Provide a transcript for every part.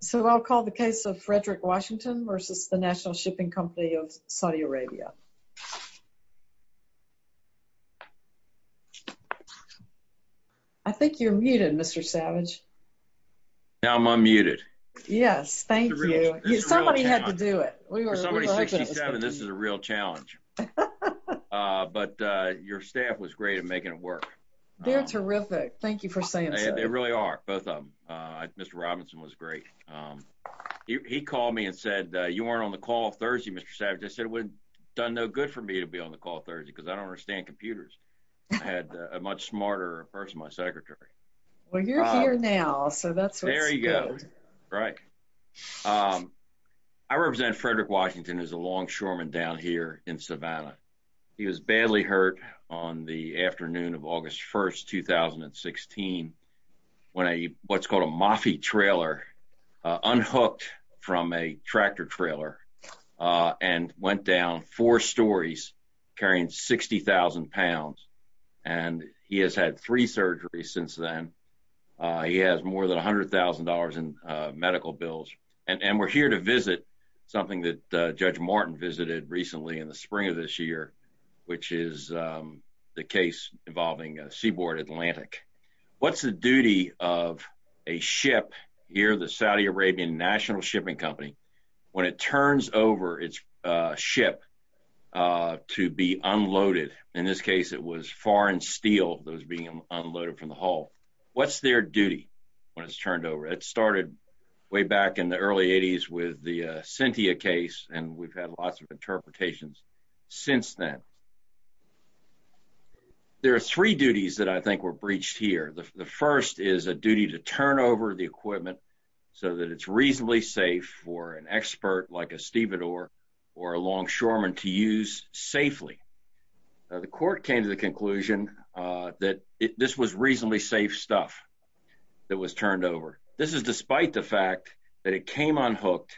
So I'll call the case of Frederick Washington versus the National Shipping Company of Saudi Arabia. I think you're muted, Mr. Savage. Now I'm unmuted. Yes, thank you. Somebody had to do it. This is a real challenge. But your staff was great at making it work. They're terrific. Thank you. He called me and said you weren't on the call Thursday, Mr. Savage. I said it would done no good for me to be on the call Thursday because I don't understand computers. I had a much smarter person, my secretary. Well, you're here now. So that's very good. Right. I represent Frederick Washington is a longshoreman down here in Savannah. He was badly hurt on the unhooked from a tractor trailer and went down four stories carrying 60,000 pounds. And he has had three surgeries since then. He has more than $100,000 in medical bills. And we're here to visit something that Judge Martin visited recently in the spring of this year, which is the case involving Seaboard Atlantic. What's the duty of a ship here, the Saudi Arabian National Shipping Company, when it turns over its ship to be unloaded? In this case, it was foreign steel that was being unloaded from the hull. What's their duty when it's turned over? It started way back in the early 80s with the Cynthia case. And we've had lots of interpretations since then. There are three duties that I think were breached here. The first is a duty to turn over the equipment so that it's reasonably safe for an expert like a stevedore or a longshoreman to use safely. The court came to the conclusion that this was reasonably safe stuff that was turned over. This is despite the fact that it came unhooked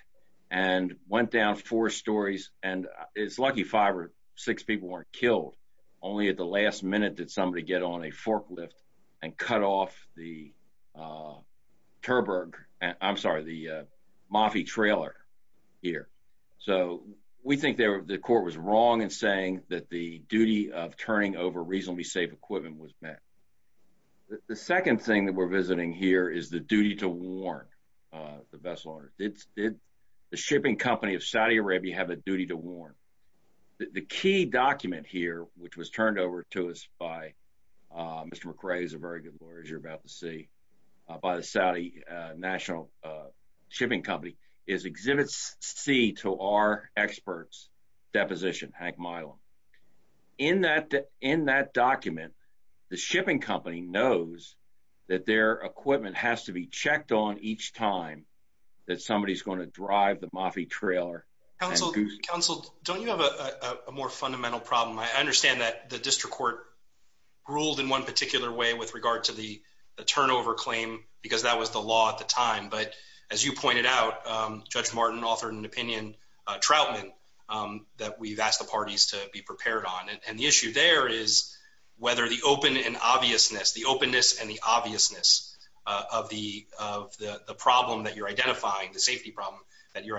and went down four stories. And it's lucky five or six people weren't killed. Only at the last minute did somebody get on a forklift and cut off the Turberg, I'm sorry, the Moffie trailer here. So we think the court was wrong in saying that the duty of turning over reasonably safe equipment was met. The second thing that we're visiting here is the duty to warn the vessel owner. Did the shipping company of Saudi to warn? The key document here, which was turned over to us by Mr. McRae is a very good lawyer, as you're about to see, by the Saudi National Shipping Company is Exhibit C to our experts, deposition Hank Milam. In that document, the shipping company knows that their equipment has to be checked on each time that somebody is going to drive the Moffie trailer. Counsel, don't you have a more fundamental problem? I understand that the district court ruled in one particular way with regard to the turnover claim, because that was the law at the time. But as you pointed out, Judge Martin authored an opinion, Troutman, that we've asked the parties to be prepared on. And the issue there is whether the open and obviousness, the openness and the obviousness of the problem that you're identifying, the safety problem that you're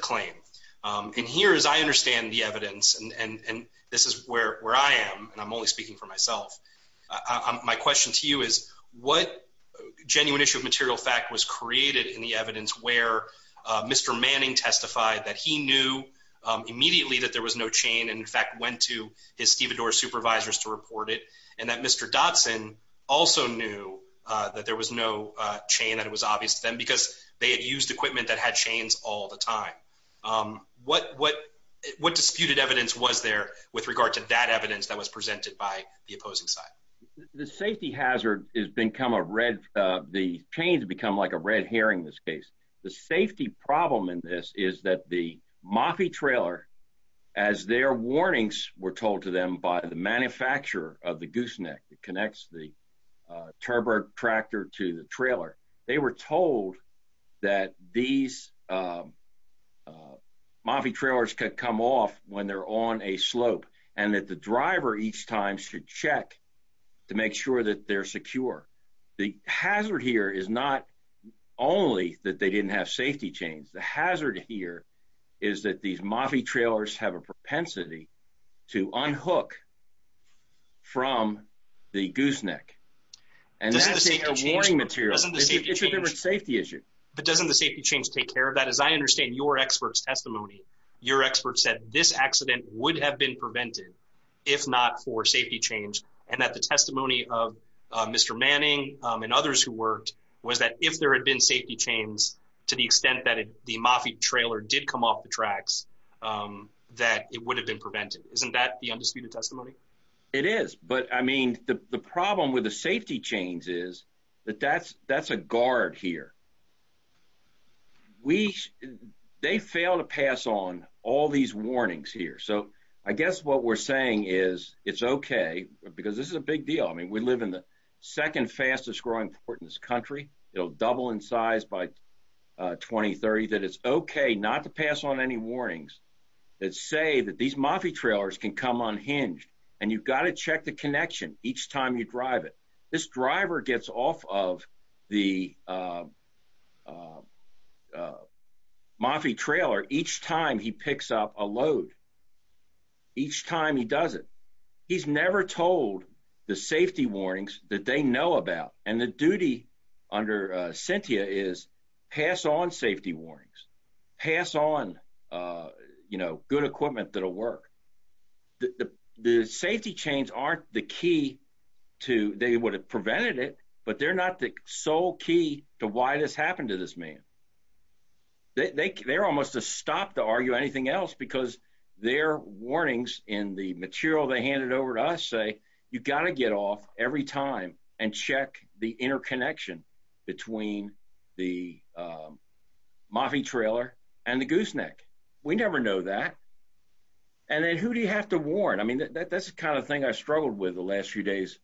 claiming. And here, as I understand the evidence, and this is where I am, and I'm only speaking for myself, my question to you is what genuine issue of material fact was created in the evidence where Mr. Manning testified that he knew immediately that there was no chain, and in fact went to his stevedore supervisors to report it, and that Mr. Dotson also knew that there was no chain that was obvious to them because they had used equipment that had chains all the time. What disputed evidence was there with regard to that evidence that was presented by the opposing side? The safety hazard has become a red, the chains become like a red herring in this case. The safety problem in this is that the Moffey trailer, as their warnings were told to them by the manufacturer of the gooseneck that connects the turbo tractor to the trailer, they were told that these Moffey trailers could come off when they're on a slope, and that the driver each time should check to make sure that they're secure. The hazard here is not only that they didn't have safety chains. The hazard here is that these Moffey trailers have a propensity to unhook from the gooseneck, and that's a warning material. It's a different safety issue. But doesn't the safety change take care of that? As I understand your expert's testimony, your expert said this accident would have been prevented if not for safety change, and that the testimony of Mr. Manning and others who worked was that if there had been safety chains to the extent that the Moffey trailer did come off the tracks, that it would have been prevented. Isn't that the undisputed testimony? It is, but I mean the problem with the safety chains is that that's a guard here. They fail to pass on all these warnings here, so I guess what we're saying is it's okay, because this is a big deal. I mean we live in the second fastest growing port in this country. It'll double in size by 2030, that it's okay not to pass on any warnings that say that these Moffey trailers can come unhinged, and you've got to check the connection each time you drive it. This driver gets off of the Moffey trailer each time he picks up a load, each time he does it. He's never told the safety warnings that they know about, and the duty under Cynthia is pass on safety warnings, pass on you know good equipment that'll work. The safety chains aren't the key to, they would have prevented it, but they're not the sole key to why this happened to this man. They're almost a stop to argue anything else, because their warnings in the material they handed over to us say you got to get off every time and check the interconnection between the Moffey trailer and the gooseneck. We never know that, and then who do you have to warn? I mean that's the kind of thing I struggled with the last few days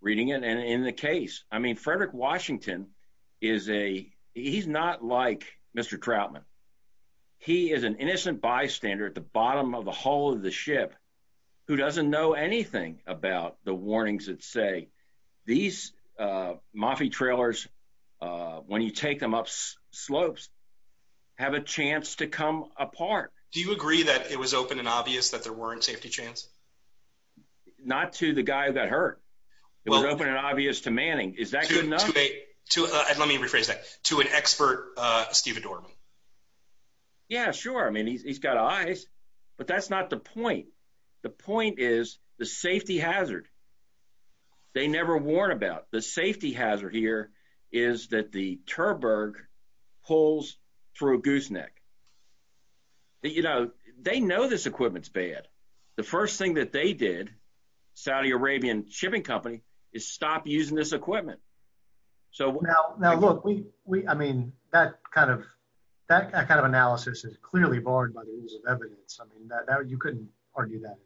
reading it, and in the case, I mean Frederick Washington is a, he's not like Mr. Troutman. He is an innocent bystander at the anything about the warnings that say these Moffey trailers, when you take them up slopes, have a chance to come apart. Do you agree that it was open and obvious that there weren't safety chains? Not to the guy who got hurt. It was open and obvious to Manning. Is that good enough? Let me rephrase that, to an expert, Steve Adorman. Yeah sure, I mean he's got eyes, but that's not the point. The point is the safety hazard they never warn about. The safety hazard here is that the Terberg pulls through a gooseneck. You know they know this equipment's bad. The first thing that they did, Saudi Arabian shipping company, is stop using this equipment. So now look, I mean that kind of analysis is clearly barred by the rules of evidence. I mean that you couldn't argue that.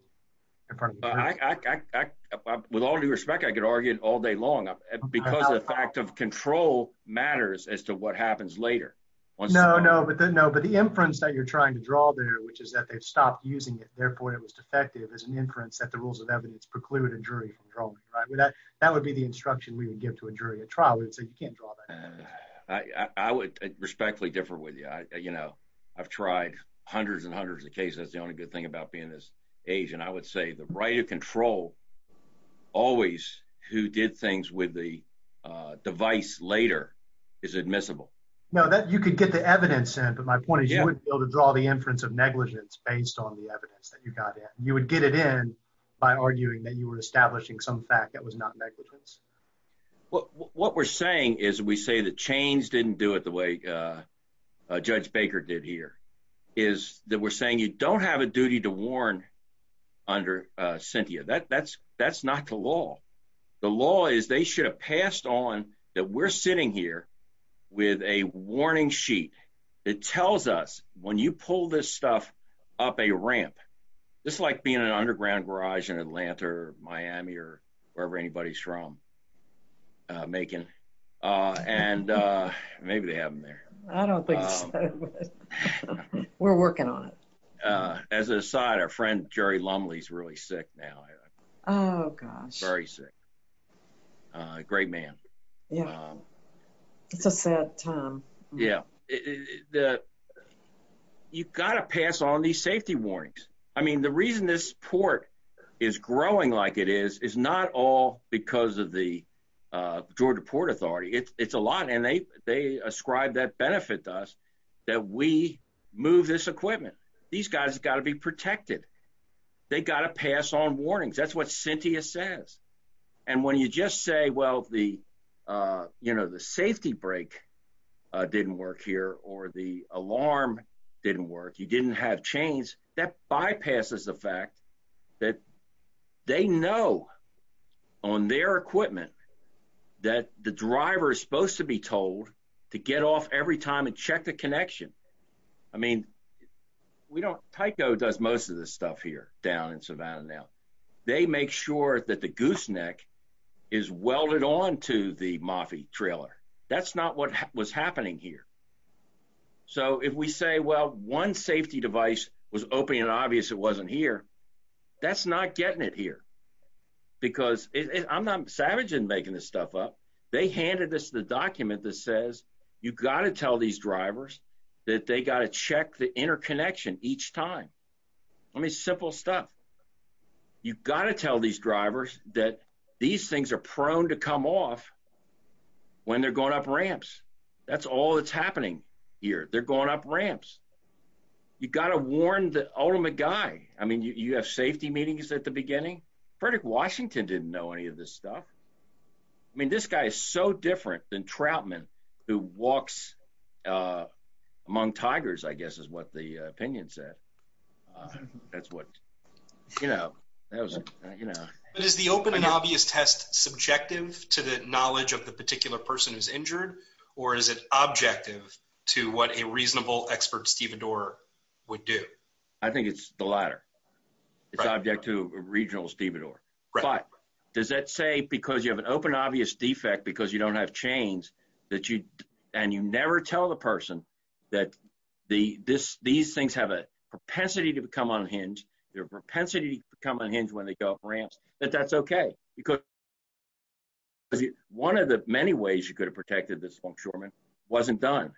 With all due respect, I could argue it all day long because the fact of control matters as to what happens later. No, no, but the inference that you're trying to draw there, which is that they've stopped using it, therefore it was defective, is an inference that the rules of evidence preclude a jury from drawing it, right? That would be the instruction we would give to a jury at trial. We'd say you can't draw that. I would respectfully differ with you. I've tried hundreds and hundreds of cases. That's the only good thing about being this age, and I would say the right of control, always who did things with the device later, is admissible. No, you could get the evidence in, but my point is you wouldn't be able to draw the inference of negligence based on the evidence that you got in. You would get it by arguing that you were establishing some fact that was not negligence. What we're saying is we say the chains didn't do it the way Judge Baker did here, is that we're saying you don't have a duty to warn under Cynthia. That's not the law. The law is they should have passed on that we're sitting here with a warning sheet that tells us when you pull this stuff up a ramp. It's like being in an underground garage in Atlanta or Miami or wherever anybody's from. Maybe they have them there. I don't think so. We're working on it. As an aside, our friend Jerry Lumley's really sick now. Oh gosh. Very sick. Great man. Yeah. It's a sad time. Yeah. You've got to pass on these safety warnings. I mean the reason this port is growing like it is, is not all because of the Georgia Port Authority. It's a lot and they ascribe that benefit to us that we move this equipment. These guys have got to be protected. They've got to pass on warnings. That's what Cynthia says. When you just say, well the safety brake didn't work here or the alarm didn't work, you didn't have chains, that bypasses the fact that they know on their equipment that the driver is supposed to be told to get off every time and most of this stuff here down in Savannah now. They make sure that the gooseneck is welded on to the Moffey trailer. That's not what was happening here. So if we say, well one safety device was open and obvious it wasn't here, that's not getting it here because I'm not savage in making this stuff up. They handed us the document that says you've got to tell these drivers that they got to check the interconnection each time. I mean simple stuff. You got to tell these drivers that these things are prone to come off when they're going up ramps. That's all that's happening here. They're going up ramps. You got to warn the ultimate guy. I mean you have safety meetings at the beginning. Frederick Washington didn't know any of this stuff. I mean this guy is so different than Troutman who walks among tigers I guess is what the opinion said. That's what you know that was you know. Is the open and obvious test subjective to the knowledge of the particular person who's injured or is it objective to what a reasonable expert stevedore would do? I think it's the latter. It's object to a regional stevedore but does that say because you have an open obvious defect because you don't have chains and you never tell the person that these things have a propensity to become unhinged. Their propensity to become unhinged when they go up ramps. That's okay because one of the many ways you could have protected this longshoreman wasn't done.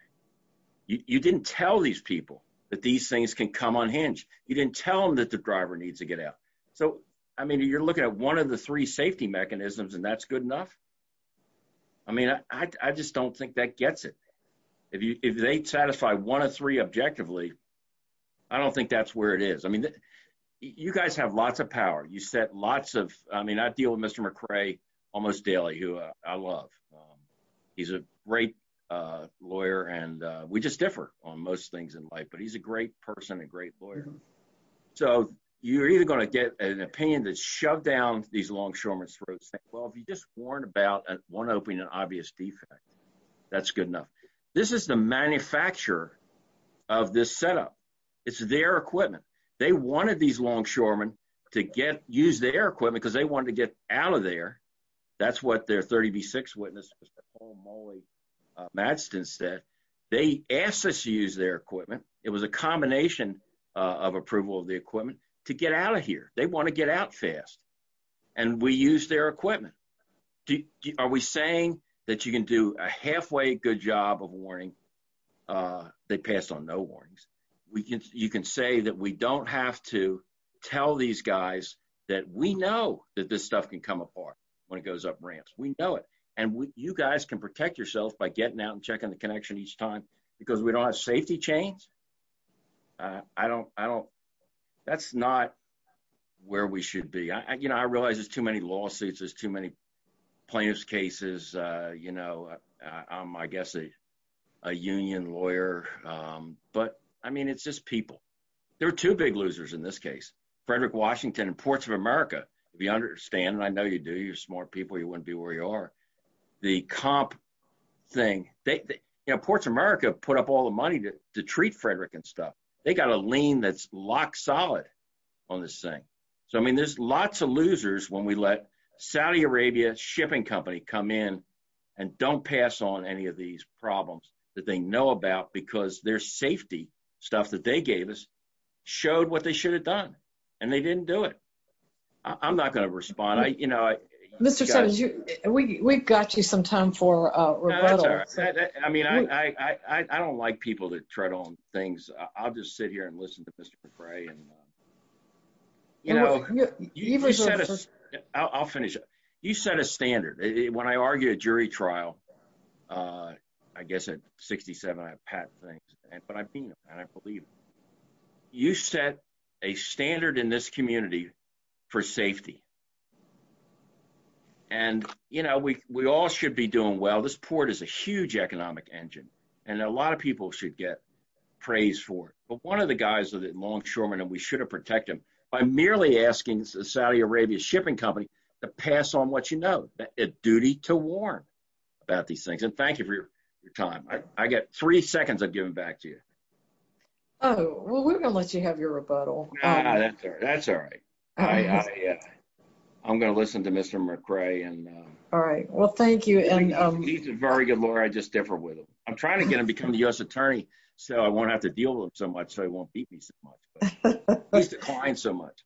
You didn't tell these people that these things can come unhinged. You didn't tell them that the driver needs to get out. So I mean you're looking at one of the three safety mechanisms and that's good enough. I mean I just don't think that gets it. If they satisfy one of three objectively, I don't think that's where it is. I mean you guys have lots of power. You set lots of I mean I deal with Mr. McRae almost daily who I love. He's a great lawyer and we just differ on most things in life but he's a great person and great lawyer. So you're either going to get an opinion that's shoved down these longshoreman's throats saying well if you just warned about one opening an obvious defect, that's good enough. This is the manufacturer of this setup. It's their equipment. They wanted these longshoremen to get use their equipment because they wanted to get out of there. That's what their 30b6 witness Mr. Paul Molley Madsen said. They asked us to use their equipment. It was a combination of approval of the equipment to get out of here. They want to get out fast and we use their equipment. Are we saying that you can do a halfway good job of warning that passed on no warnings? You can say that we don't have to tell these guys that we know that this stuff can come apart when it goes up ramps. We know it and you guys can protect yourself by getting out and checking the connection each time because we don't have safety chains. That's not where we should be. I realize there's too many lawsuits. There's too many plaintiff's cases. I'm I guess a union lawyer but I mean it's just people. There are two big losers in this case. Frederick Washington and Ports of America. If you understand and I know you do you're smart people you wouldn't be where you are. The comp thing they you know Ports of America put up all the money to treat Frederick and stuff. They got a lien that's lock solid on this thing. So I mean there's lots of losers when we let Saudi Arabia shipping company come in and don't pass on any of these problems that they know about because their safety stuff that they gave us showed what they should have done and they didn't do it. I'm not going to respond. We've got you some time for rebuttal. I mean I don't like people to tread on things. I'll just sit here and listen to Mr. Frey and you know I'll finish. You set a standard when I argue a jury trial I guess at 67 I pat things and but I mean and I believe you set a standard in this community for safety and you know we we all should be doing well. This port is a huge economic engine and a lot of people should get praise for it but one of the guys are the longshoremen and we should have protect them by merely asking the Saudi Arabia shipping company to pass on what you know a duty to warn about these things and thank you for your time. I got well we're going to let you have your rebuttal. That's all right. I'm going to listen to Mr. McCray and all right well thank you and he's a very good lawyer. I just differ with him. I'm trying to get him to become the U.S. attorney so I won't have to deal with him so much so he won't beat me so much but he's declined so much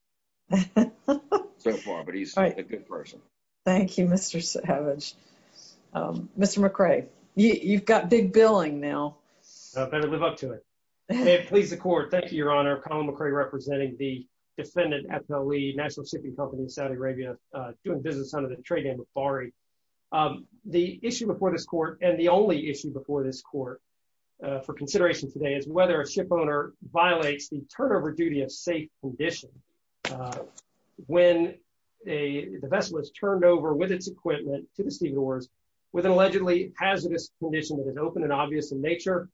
so far but he's a good person. Thank you Mr. Savage. Mr. McCray, you've got big billing now. I better live up to it. May it please the court. Thank you your honor. Colin McCray representing the defendant at the lead national shipping company in Saudi Arabia doing business under the trade name of Bari. The issue before this court and the only issue before this court for consideration today is whether a shipowner violates the turnover duty of safe condition when the vessel is turned over with its equipment to the stevedores with an allegedly hazardous condition that is open and obvious in nature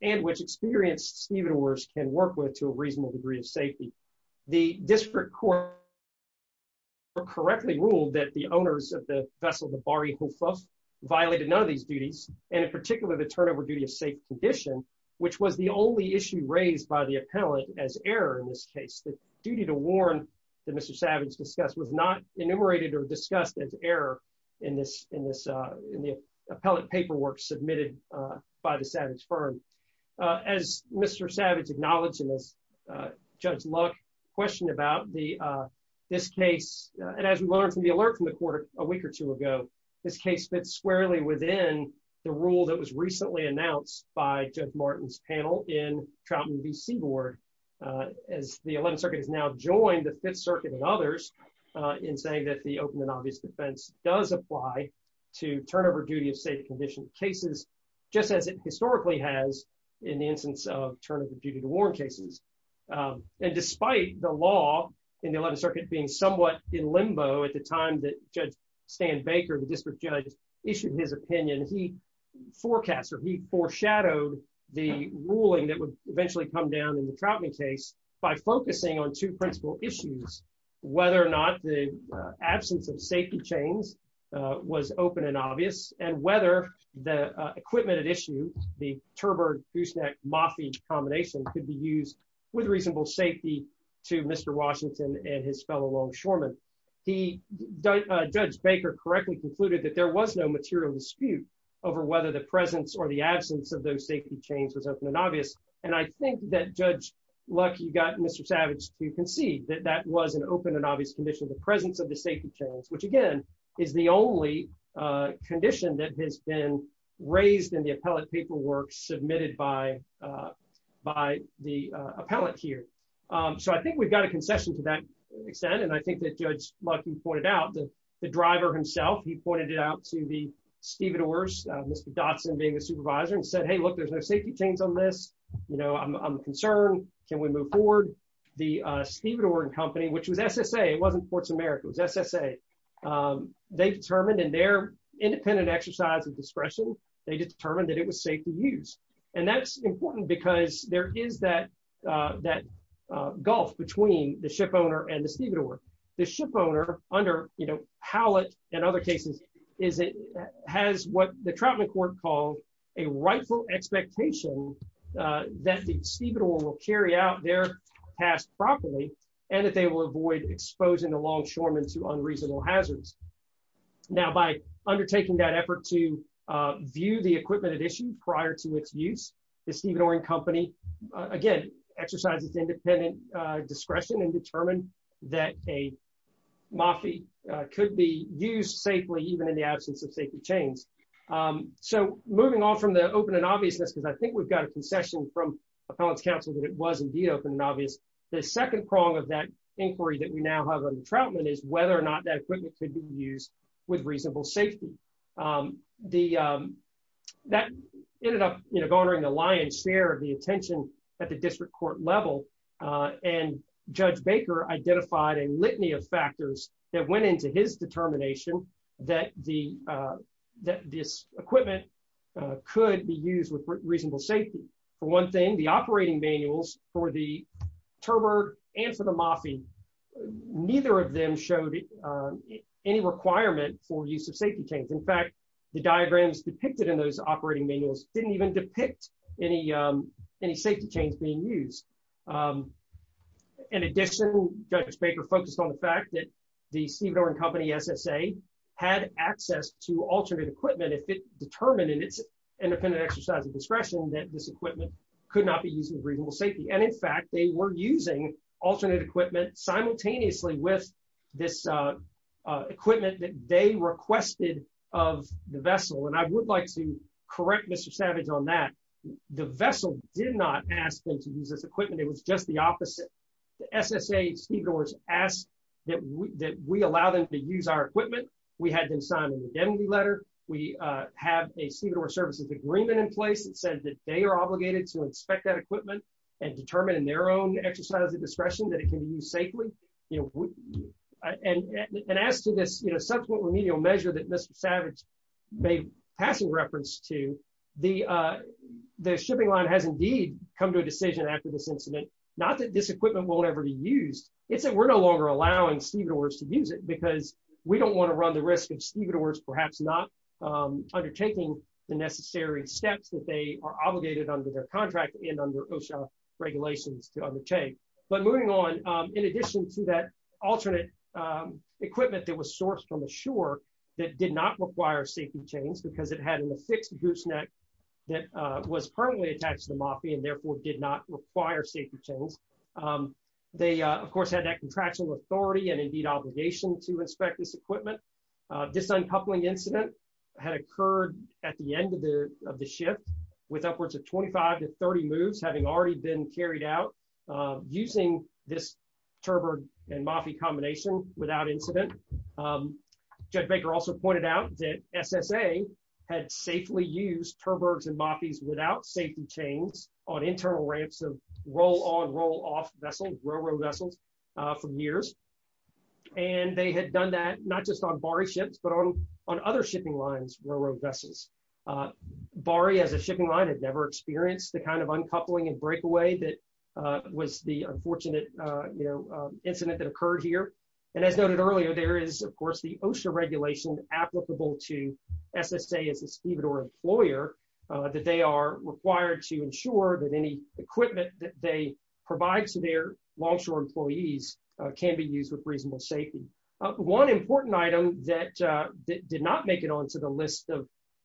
and which experienced stevedores can work with to a reasonable degree of safety. The district court correctly ruled that the owners of the vessel the Bari Hufus violated none of these duties and in particular the turnover duty of safe condition which was the only issue raised by the appellant as error in this case. The duty to warn that Mr. Savage discussed was not enumerated or discussed as error in this in the appellate paperwork submitted by the Savage firm. As Mr. Savage acknowledged and as Judge Luck questioned about this case and as we learned from the alert from the court a week or two ago this case fits squarely within the rule that was recently announced by Judge Martin's panel in Troutman v. Seaboard as the 11th circuit has now joined the 5th circuit and others in saying that the open and obvious defense does apply to turnover duty of safe condition cases just as it historically has in the instance of turn of the duty to warn cases. And despite the law in the 11th circuit being somewhat in limbo at the time that Judge Stan Baker the district judge issued his opinion he forecast or he foreshadowed the ruling that would eventually come down in the Troutman case by focusing on two principal issues whether or not the absence of safety chains was open and obvious and whether the equipment at issue the with reasonable safety to Mr. Washington and his fellow longshoremen. He Judge Baker correctly concluded that there was no material dispute over whether the presence or the absence of those safety chains was open and obvious and I think that Judge Luck you got Mr. Savage to concede that that was an open and obvious condition the presence of the safety chains which again is the only condition that has been raised in the appellate paperwork submitted by by the appellate here. So I think we've got a concession to that extent and I think that Judge Luck you pointed out the driver himself he pointed it out to the stevedores Mr. Dotson being the supervisor and said hey look there's no safety chains on this you know I'm concerned can we move forward. The stevedore and company which was SSA it wasn't Ports America it was SSA they determined in their independent exercise of discretion they determined that it was safe to use and that's important because there is that that gulf between the ship owner and the stevedore. The ship owner under you know Howlett and other cases is it has what the Trautman court called a rightful expectation that the stevedore will carry out their task properly and that they will avoid exposing the longshoremen to unreasonable hazards. Now by undertaking that effort to view the equipment at issue prior to its use the stevedore and company again exercises independent discretion and determined that a moffy could be used safely even in the absence of safety chains. So moving on from the open and obviousness because I think we've got a concession from appellate's counsel that it was indeed open and obvious the second prong of that inquiry that we now have under Trautman is whether or not that equipment could be used with reasonable safety. That ended up you know garnering a lion's share of the attention at the district court level and Judge Baker identified a litany of factors that went into his determination that the that this equipment could be used with reasonable safety. For one thing the operating manuals for the turbot and for the moffy neither of them showed any requirement for use of safety in fact the diagrams depicted in those operating manuals didn't even depict any safety chains being used. In addition Judge Baker focused on the fact that the stevedore and company SSA had access to alternate equipment if it determined in its independent exercise of discretion that this equipment could not be used with reasonable safety and in fact they were using alternate equipment simultaneously with this equipment that they requested of the vessel and I would like to correct Mr. Savage on that. The vessel did not ask them to use this equipment it was just the opposite. The SSA stevedores asked that we allow them to use our equipment. We had them sign an indemnity letter. We have a stevedore services agreement in place that says that they are obligated to inspect that equipment and determine in their own exercise of discretion that it can be used safely and as to this subsequent remedial measure that Mr. Savage made passing reference to the shipping line has indeed come to a decision after this incident not that this equipment won't ever be used it's that we're no longer allowing stevedores to use it because we don't want to run the risk of stevedores perhaps not undertaking the necessary steps that they are obligated under their contract and under OSHA regulations to undertake but moving on in addition to that alternate equipment that was sourced from the shore that did not require safety chains because it had an affixed gooseneck that was permanently attached to the moffy and therefore did not require safety chains they of course had that contractual authority and indeed obligation to inspect this equipment. This uncoupling incident had occurred at the end of the using this terberg and moffy combination without incident. Judge Baker also pointed out that SSA had safely used terbergs and moffies without safety chains on internal ramps of roll-on roll-off vessels railroad vessels from years and they had done that not just on Bari ships but on on other shipping lines railroad vessels. Bari as a shipping line had never experienced the kind of unfortunate incident that occurred here and as noted earlier there is of course the OSHA regulation applicable to SSA as a stevedore employer that they are required to ensure that any equipment that they provide to their longshore employees can be used with reasonable safety. One important item that did not make it onto the list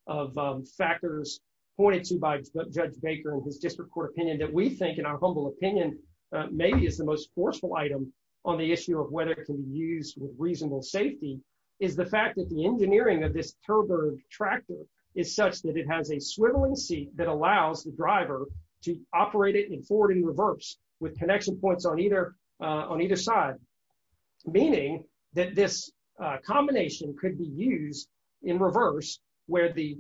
of factors pointed to by Judge Baker in his district court opinion that we think in our humble opinion maybe is the most forceful item on the issue of whether it can be used with reasonable safety is the fact that the engineering of this terberg tractor is such that it has a swiveling seat that allows the driver to operate it in forward and reverse with connection points on either side meaning that this combination could be used in reverse where the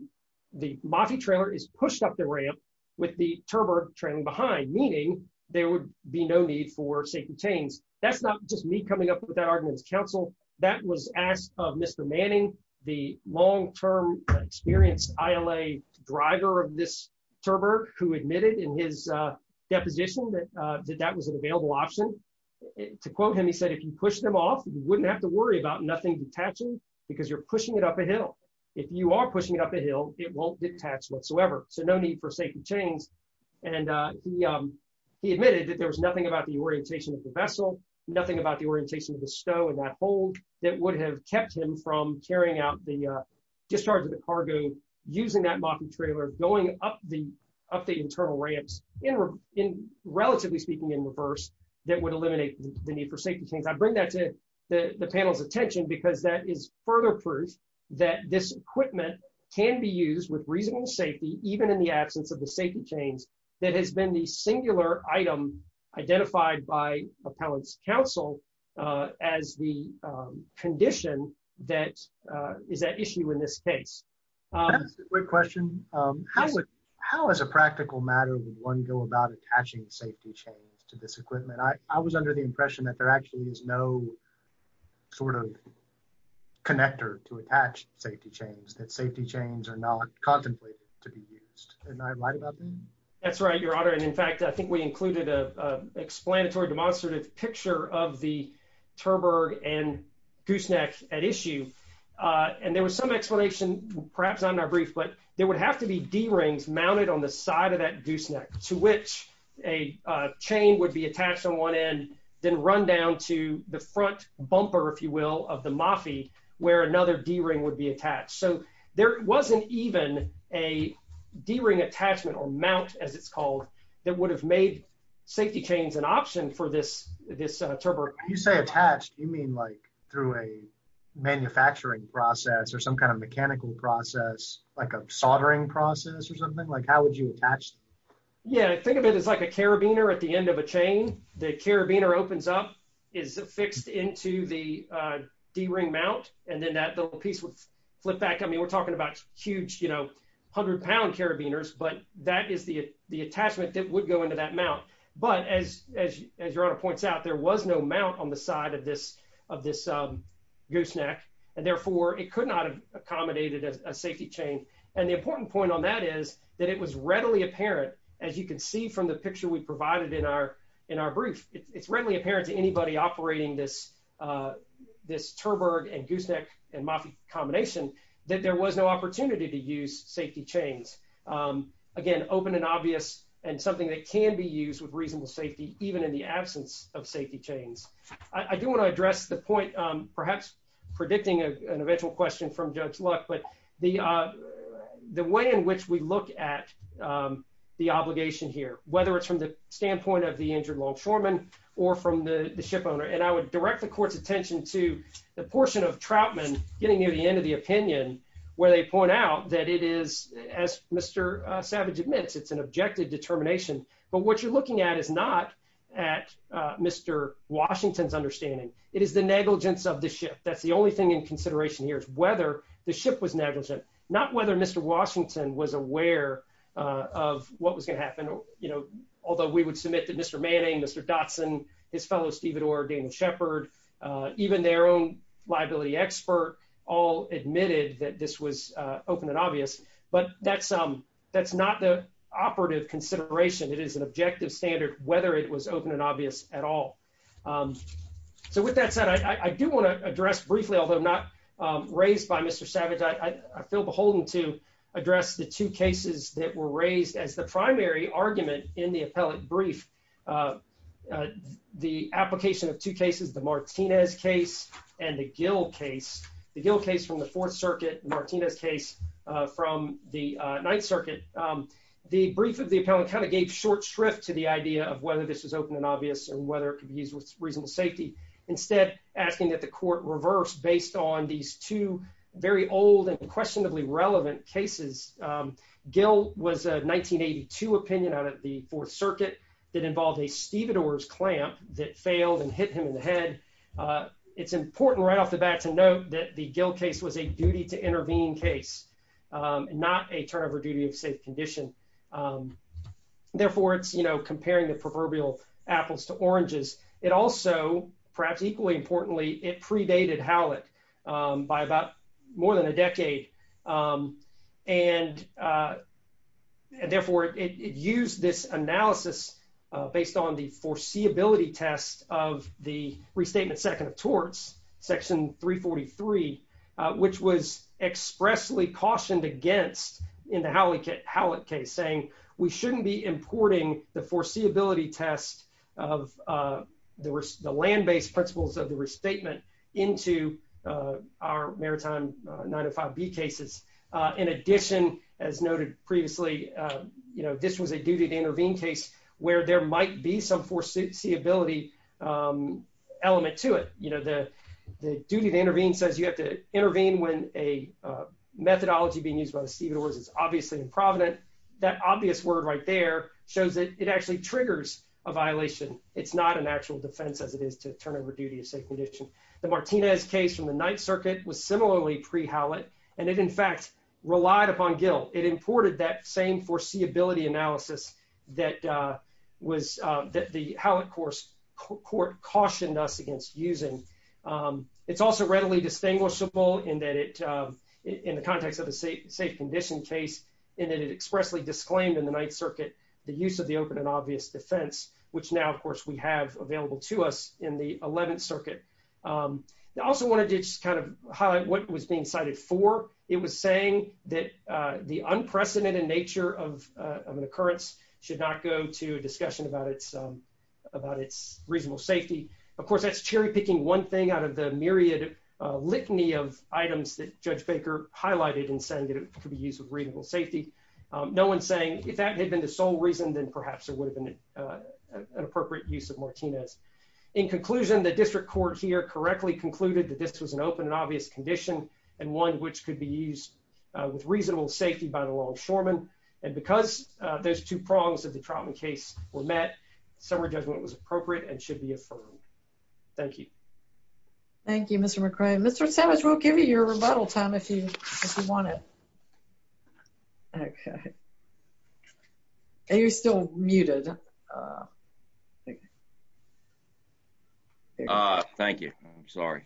the moffy trailer is pushed up the ramp with the terberg trailing behind meaning there would be no need for safety chains. That's not just me coming up with that argument counsel that was asked of Mr. Manning the long-term experienced ILA driver of this terberg who admitted in his deposition that that was an available option. To quote him he said if you push them off you wouldn't have to worry about nothing detaching because you're pushing it up a hill. If you are pushing it up a hill it won't detach whatsoever so no need for safety chains and he admitted that there was nothing about the orientation of the vessel, nothing about the orientation of the stow and that hold that would have kept him from carrying out the discharge of the cargo using that moffy trailer going up the internal ramps in relatively speaking in reverse that would eliminate the need for safety chains. I bring that to the panel's attention because that is further proof that this equipment can be used with reasonable safety even in the absence of the safety chains that has been the singular item identified by appellant's counsel as the condition that is at issue in this case. Quick question, how as a practical matter would one go about attaching safety chains to this equipment? I was under the impression that there actually is no sort of connector to attach safety chains that safety chains are not contemplated to be used. Am I right about that? That's right your honor and in fact I think we included a explanatory demonstrative picture of the terberg and gooseneck at issue and there was some explanation perhaps I'm not brief but there would have to be d-rings mounted on the side of that gooseneck to which a chain would be attached on one end then run down to the front bumper if you will of the moffy where another d-ring would be attached so there wasn't even a d-ring attachment or mount as it's called that would have made safety chains an option for this this terberg. You say attached you mean like through a manufacturing process or some kind of mechanical process like a soldering process or something like how would you attach? Yeah I think of it as like a carabiner at the end of a chain the carabiner opens up is fixed into the d-ring mount and then that little piece would flip back I mean we're talking about huge you know hundred pound carabiners but that is the the attachment that would go into that mount but as your honor points out there was no mount on the side of this of this gooseneck therefore it could not have accommodated a safety chain and the important point on that is that it was readily apparent as you can see from the picture we provided in our in our brief it's readily apparent to anybody operating this this terberg and gooseneck and moffy combination that there was no opportunity to use safety chains again open and obvious and something that can be used with reasonable safety even in the absence of safety chains. I do want to address the point perhaps predicting an eventual question from Judge Luck but the the way in which we look at the obligation here whether it's from the standpoint of the injured longshoreman or from the the ship owner and I would direct the court's attention to the portion of Troutman getting near the end of the opinion where they point out that it is as Mr. Savage admits it's an objective determination but what you're looking at is not at Mr. Washington's understanding it is the negligence of the ship that's the only thing in consideration here is whether the ship was negligent not whether Mr. Washington was aware of what was going to happen you know although we would submit that Mr. Manning, Mr. Dotson, his fellow stevedore, Daniel Shepard, even their own liability expert all admitted that this was open and obvious but that's that's not the operative consideration it is an objective standard whether it was open and obvious at all. So with that said I do want to address briefly although I'm not raised by Mr. Savage I feel beholden to address the two cases that were raised as the primary argument in the appellate brief the application of two cases the Martinez case and the Gill case the Gill case from the fourth circuit Martinez case from the ninth circuit the brief of the appellant kind of gave short shrift to the idea of whether this was open and obvious or whether it could be used with reasonable safety instead asking that the court reverse based on these two very old and questionably relevant cases. Gill was a 1982 opinion out of the fourth circuit that involved a stevedore's clamp that failed and hit him in the head it's important right off the bat to note that the Gill case was a duty to intervene case not a turnover duty of safe condition therefore it's you know comparing the proverbial apples to oranges it also perhaps equally importantly it predated Howlett by about more than a decade and therefore it used this analysis based on the foreseeability test of the restatement second of torts section 343 which was expressly cautioned against in the Howlett case saying we shouldn't be importing the foreseeability test of the land-based principles of the restatement into our maritime 905b cases in addition as noted previously you know this was a duty to intervene case where there might be some foreseeability element to it you know the duty to intervene says you have to intervene when a obviously in provident that obvious word right there shows that it actually triggers a violation it's not an actual defense as it is to turn over duty of safe condition the Martinez case from the ninth circuit was similarly pre-Howlett and it in fact relied upon Gill it imported that same foreseeability analysis that was that the Howlett court cautioned us against using it's also readily distinguishable in that it in the context of the safe condition case and it expressly disclaimed in the ninth circuit the use of the open and obvious defense which now of course we have available to us in the 11th circuit I also wanted to just kind of highlight what was being cited for it was saying that the unprecedented nature of an occurrence should not to a discussion about its reasonable safety of course that's cherry picking one thing out of the myriad litany of items that Judge Baker highlighted and saying that it could be used with reasonable safety no one's saying if that had been the sole reason then perhaps there would have been an appropriate use of Martinez in conclusion the district court here correctly concluded that this was an open and obvious condition and one which could be used with reasonable safety by the long and because there's two prongs of the trauma case were met summer judgment was appropriate and should be affirmed thank you thank you Mr. McCray Mr. Savage we'll give you your rebuttal time if you if you want it okay are you still muted uh thank you uh thank you I'm sorry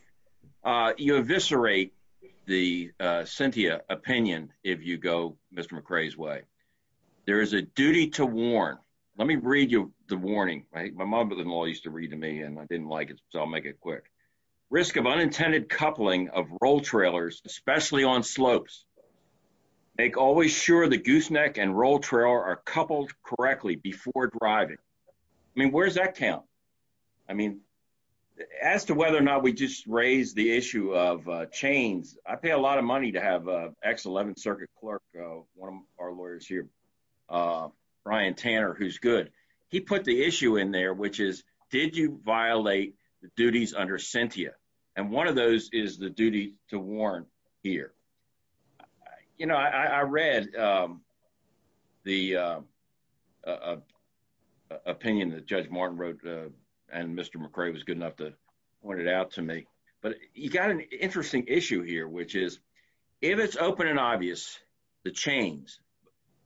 uh you eviscerate the uh Cynthia opinion if you go Mr. McCray's way there is a duty to warn let me read you the warning I think my mother-in-law used to read to me and I didn't like it so I'll make it quick risk of unintended coupling of roll trailers especially on slopes make always sure the gooseneck and roll trailer are coupled correctly before driving I mean where does that count I mean as to whether or not we just raised the issue of chains I pay a lot of money to have a x11 circuit clerk one of our lawyers here uh Brian Tanner who's good he put the issue in there which is did you violate the duties under Cynthia and one of those is the duty to warn here you know I was good enough to point it out to me but you got an interesting issue here which is if it's open and obvious the chains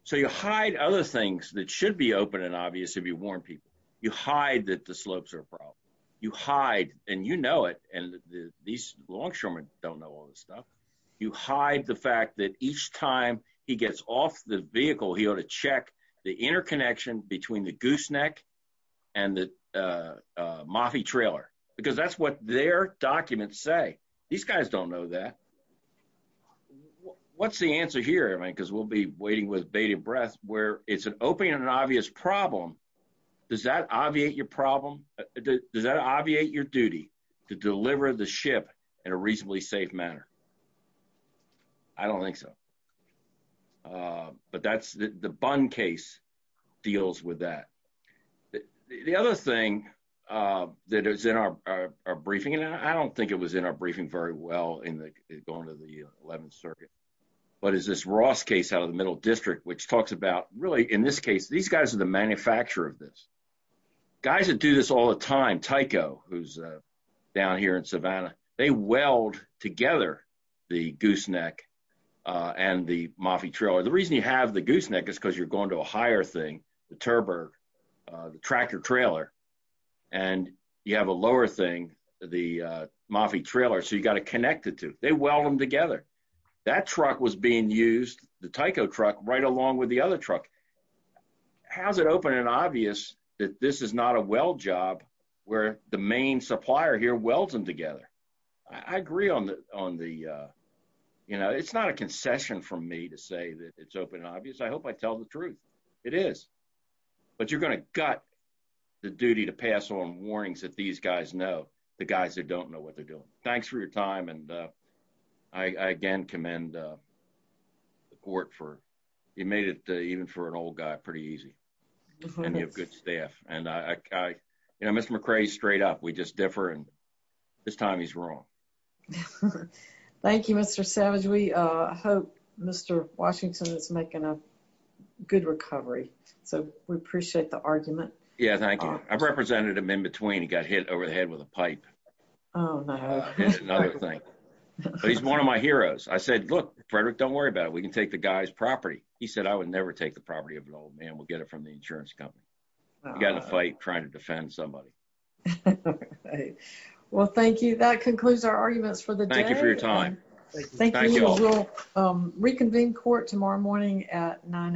so you hide other things that should be open and obvious if you warn people you hide that the slopes are a problem you hide and you know it and these longshoremen don't know all this stuff you hide the fact that each time he gets off the vehicle he ought to check the interconnection between the gooseneck and the uh moffy trailer because that's what their documents say these guys don't know that what's the answer here I mean because we'll be waiting with bated breath where it's an open and obvious problem does that obviate your problem does that obviate your duty to deliver the ship in a reasonably safe manner I don't think so uh but that's the bun case deals with that the other thing uh that is in our briefing and I don't think it was in our briefing very well in the going to the 11th circuit but is this Ross case out of the middle district which talks about really in this case these guys are the manufacturer of this guys that do this all the time Tyco who's uh down here in Savannah they weld together the gooseneck uh and the moffy trailer the reason you have the gooseneck is because you're going to a higher thing the turbo uh the tractor trailer and you have a lower thing the uh moffy trailer so you got to connect the two they weld them together that truck was being used the Tyco truck right along with the other truck how's it open and obvious that this is not a weld job where the it's not a concession from me to say that it's open and obvious I hope I tell the truth it is but you're going to gut the duty to pass on warnings that these guys know the guys that don't know what they're doing thanks for your time and uh I again commend uh the court for you made it even for an old guy pretty easy and you have good staff and I you know Mr. straight up we just differ and this time he's wrong thank you Mr. Savage we uh hope Mr. Washington is making a good recovery so we appreciate the argument yeah thank you I've represented him in between he got hit over the head with a pipe oh no another thing he's one of my heroes I said look Frederick don't worry about it we can take the guy's property he said I would never take the property of an old man we'll get it from the insurance company got in a fight trying to defend somebody well thank you that concludes our arguments for the day thank you for your time thank you all um reconvene court tomorrow morning at 9 a.m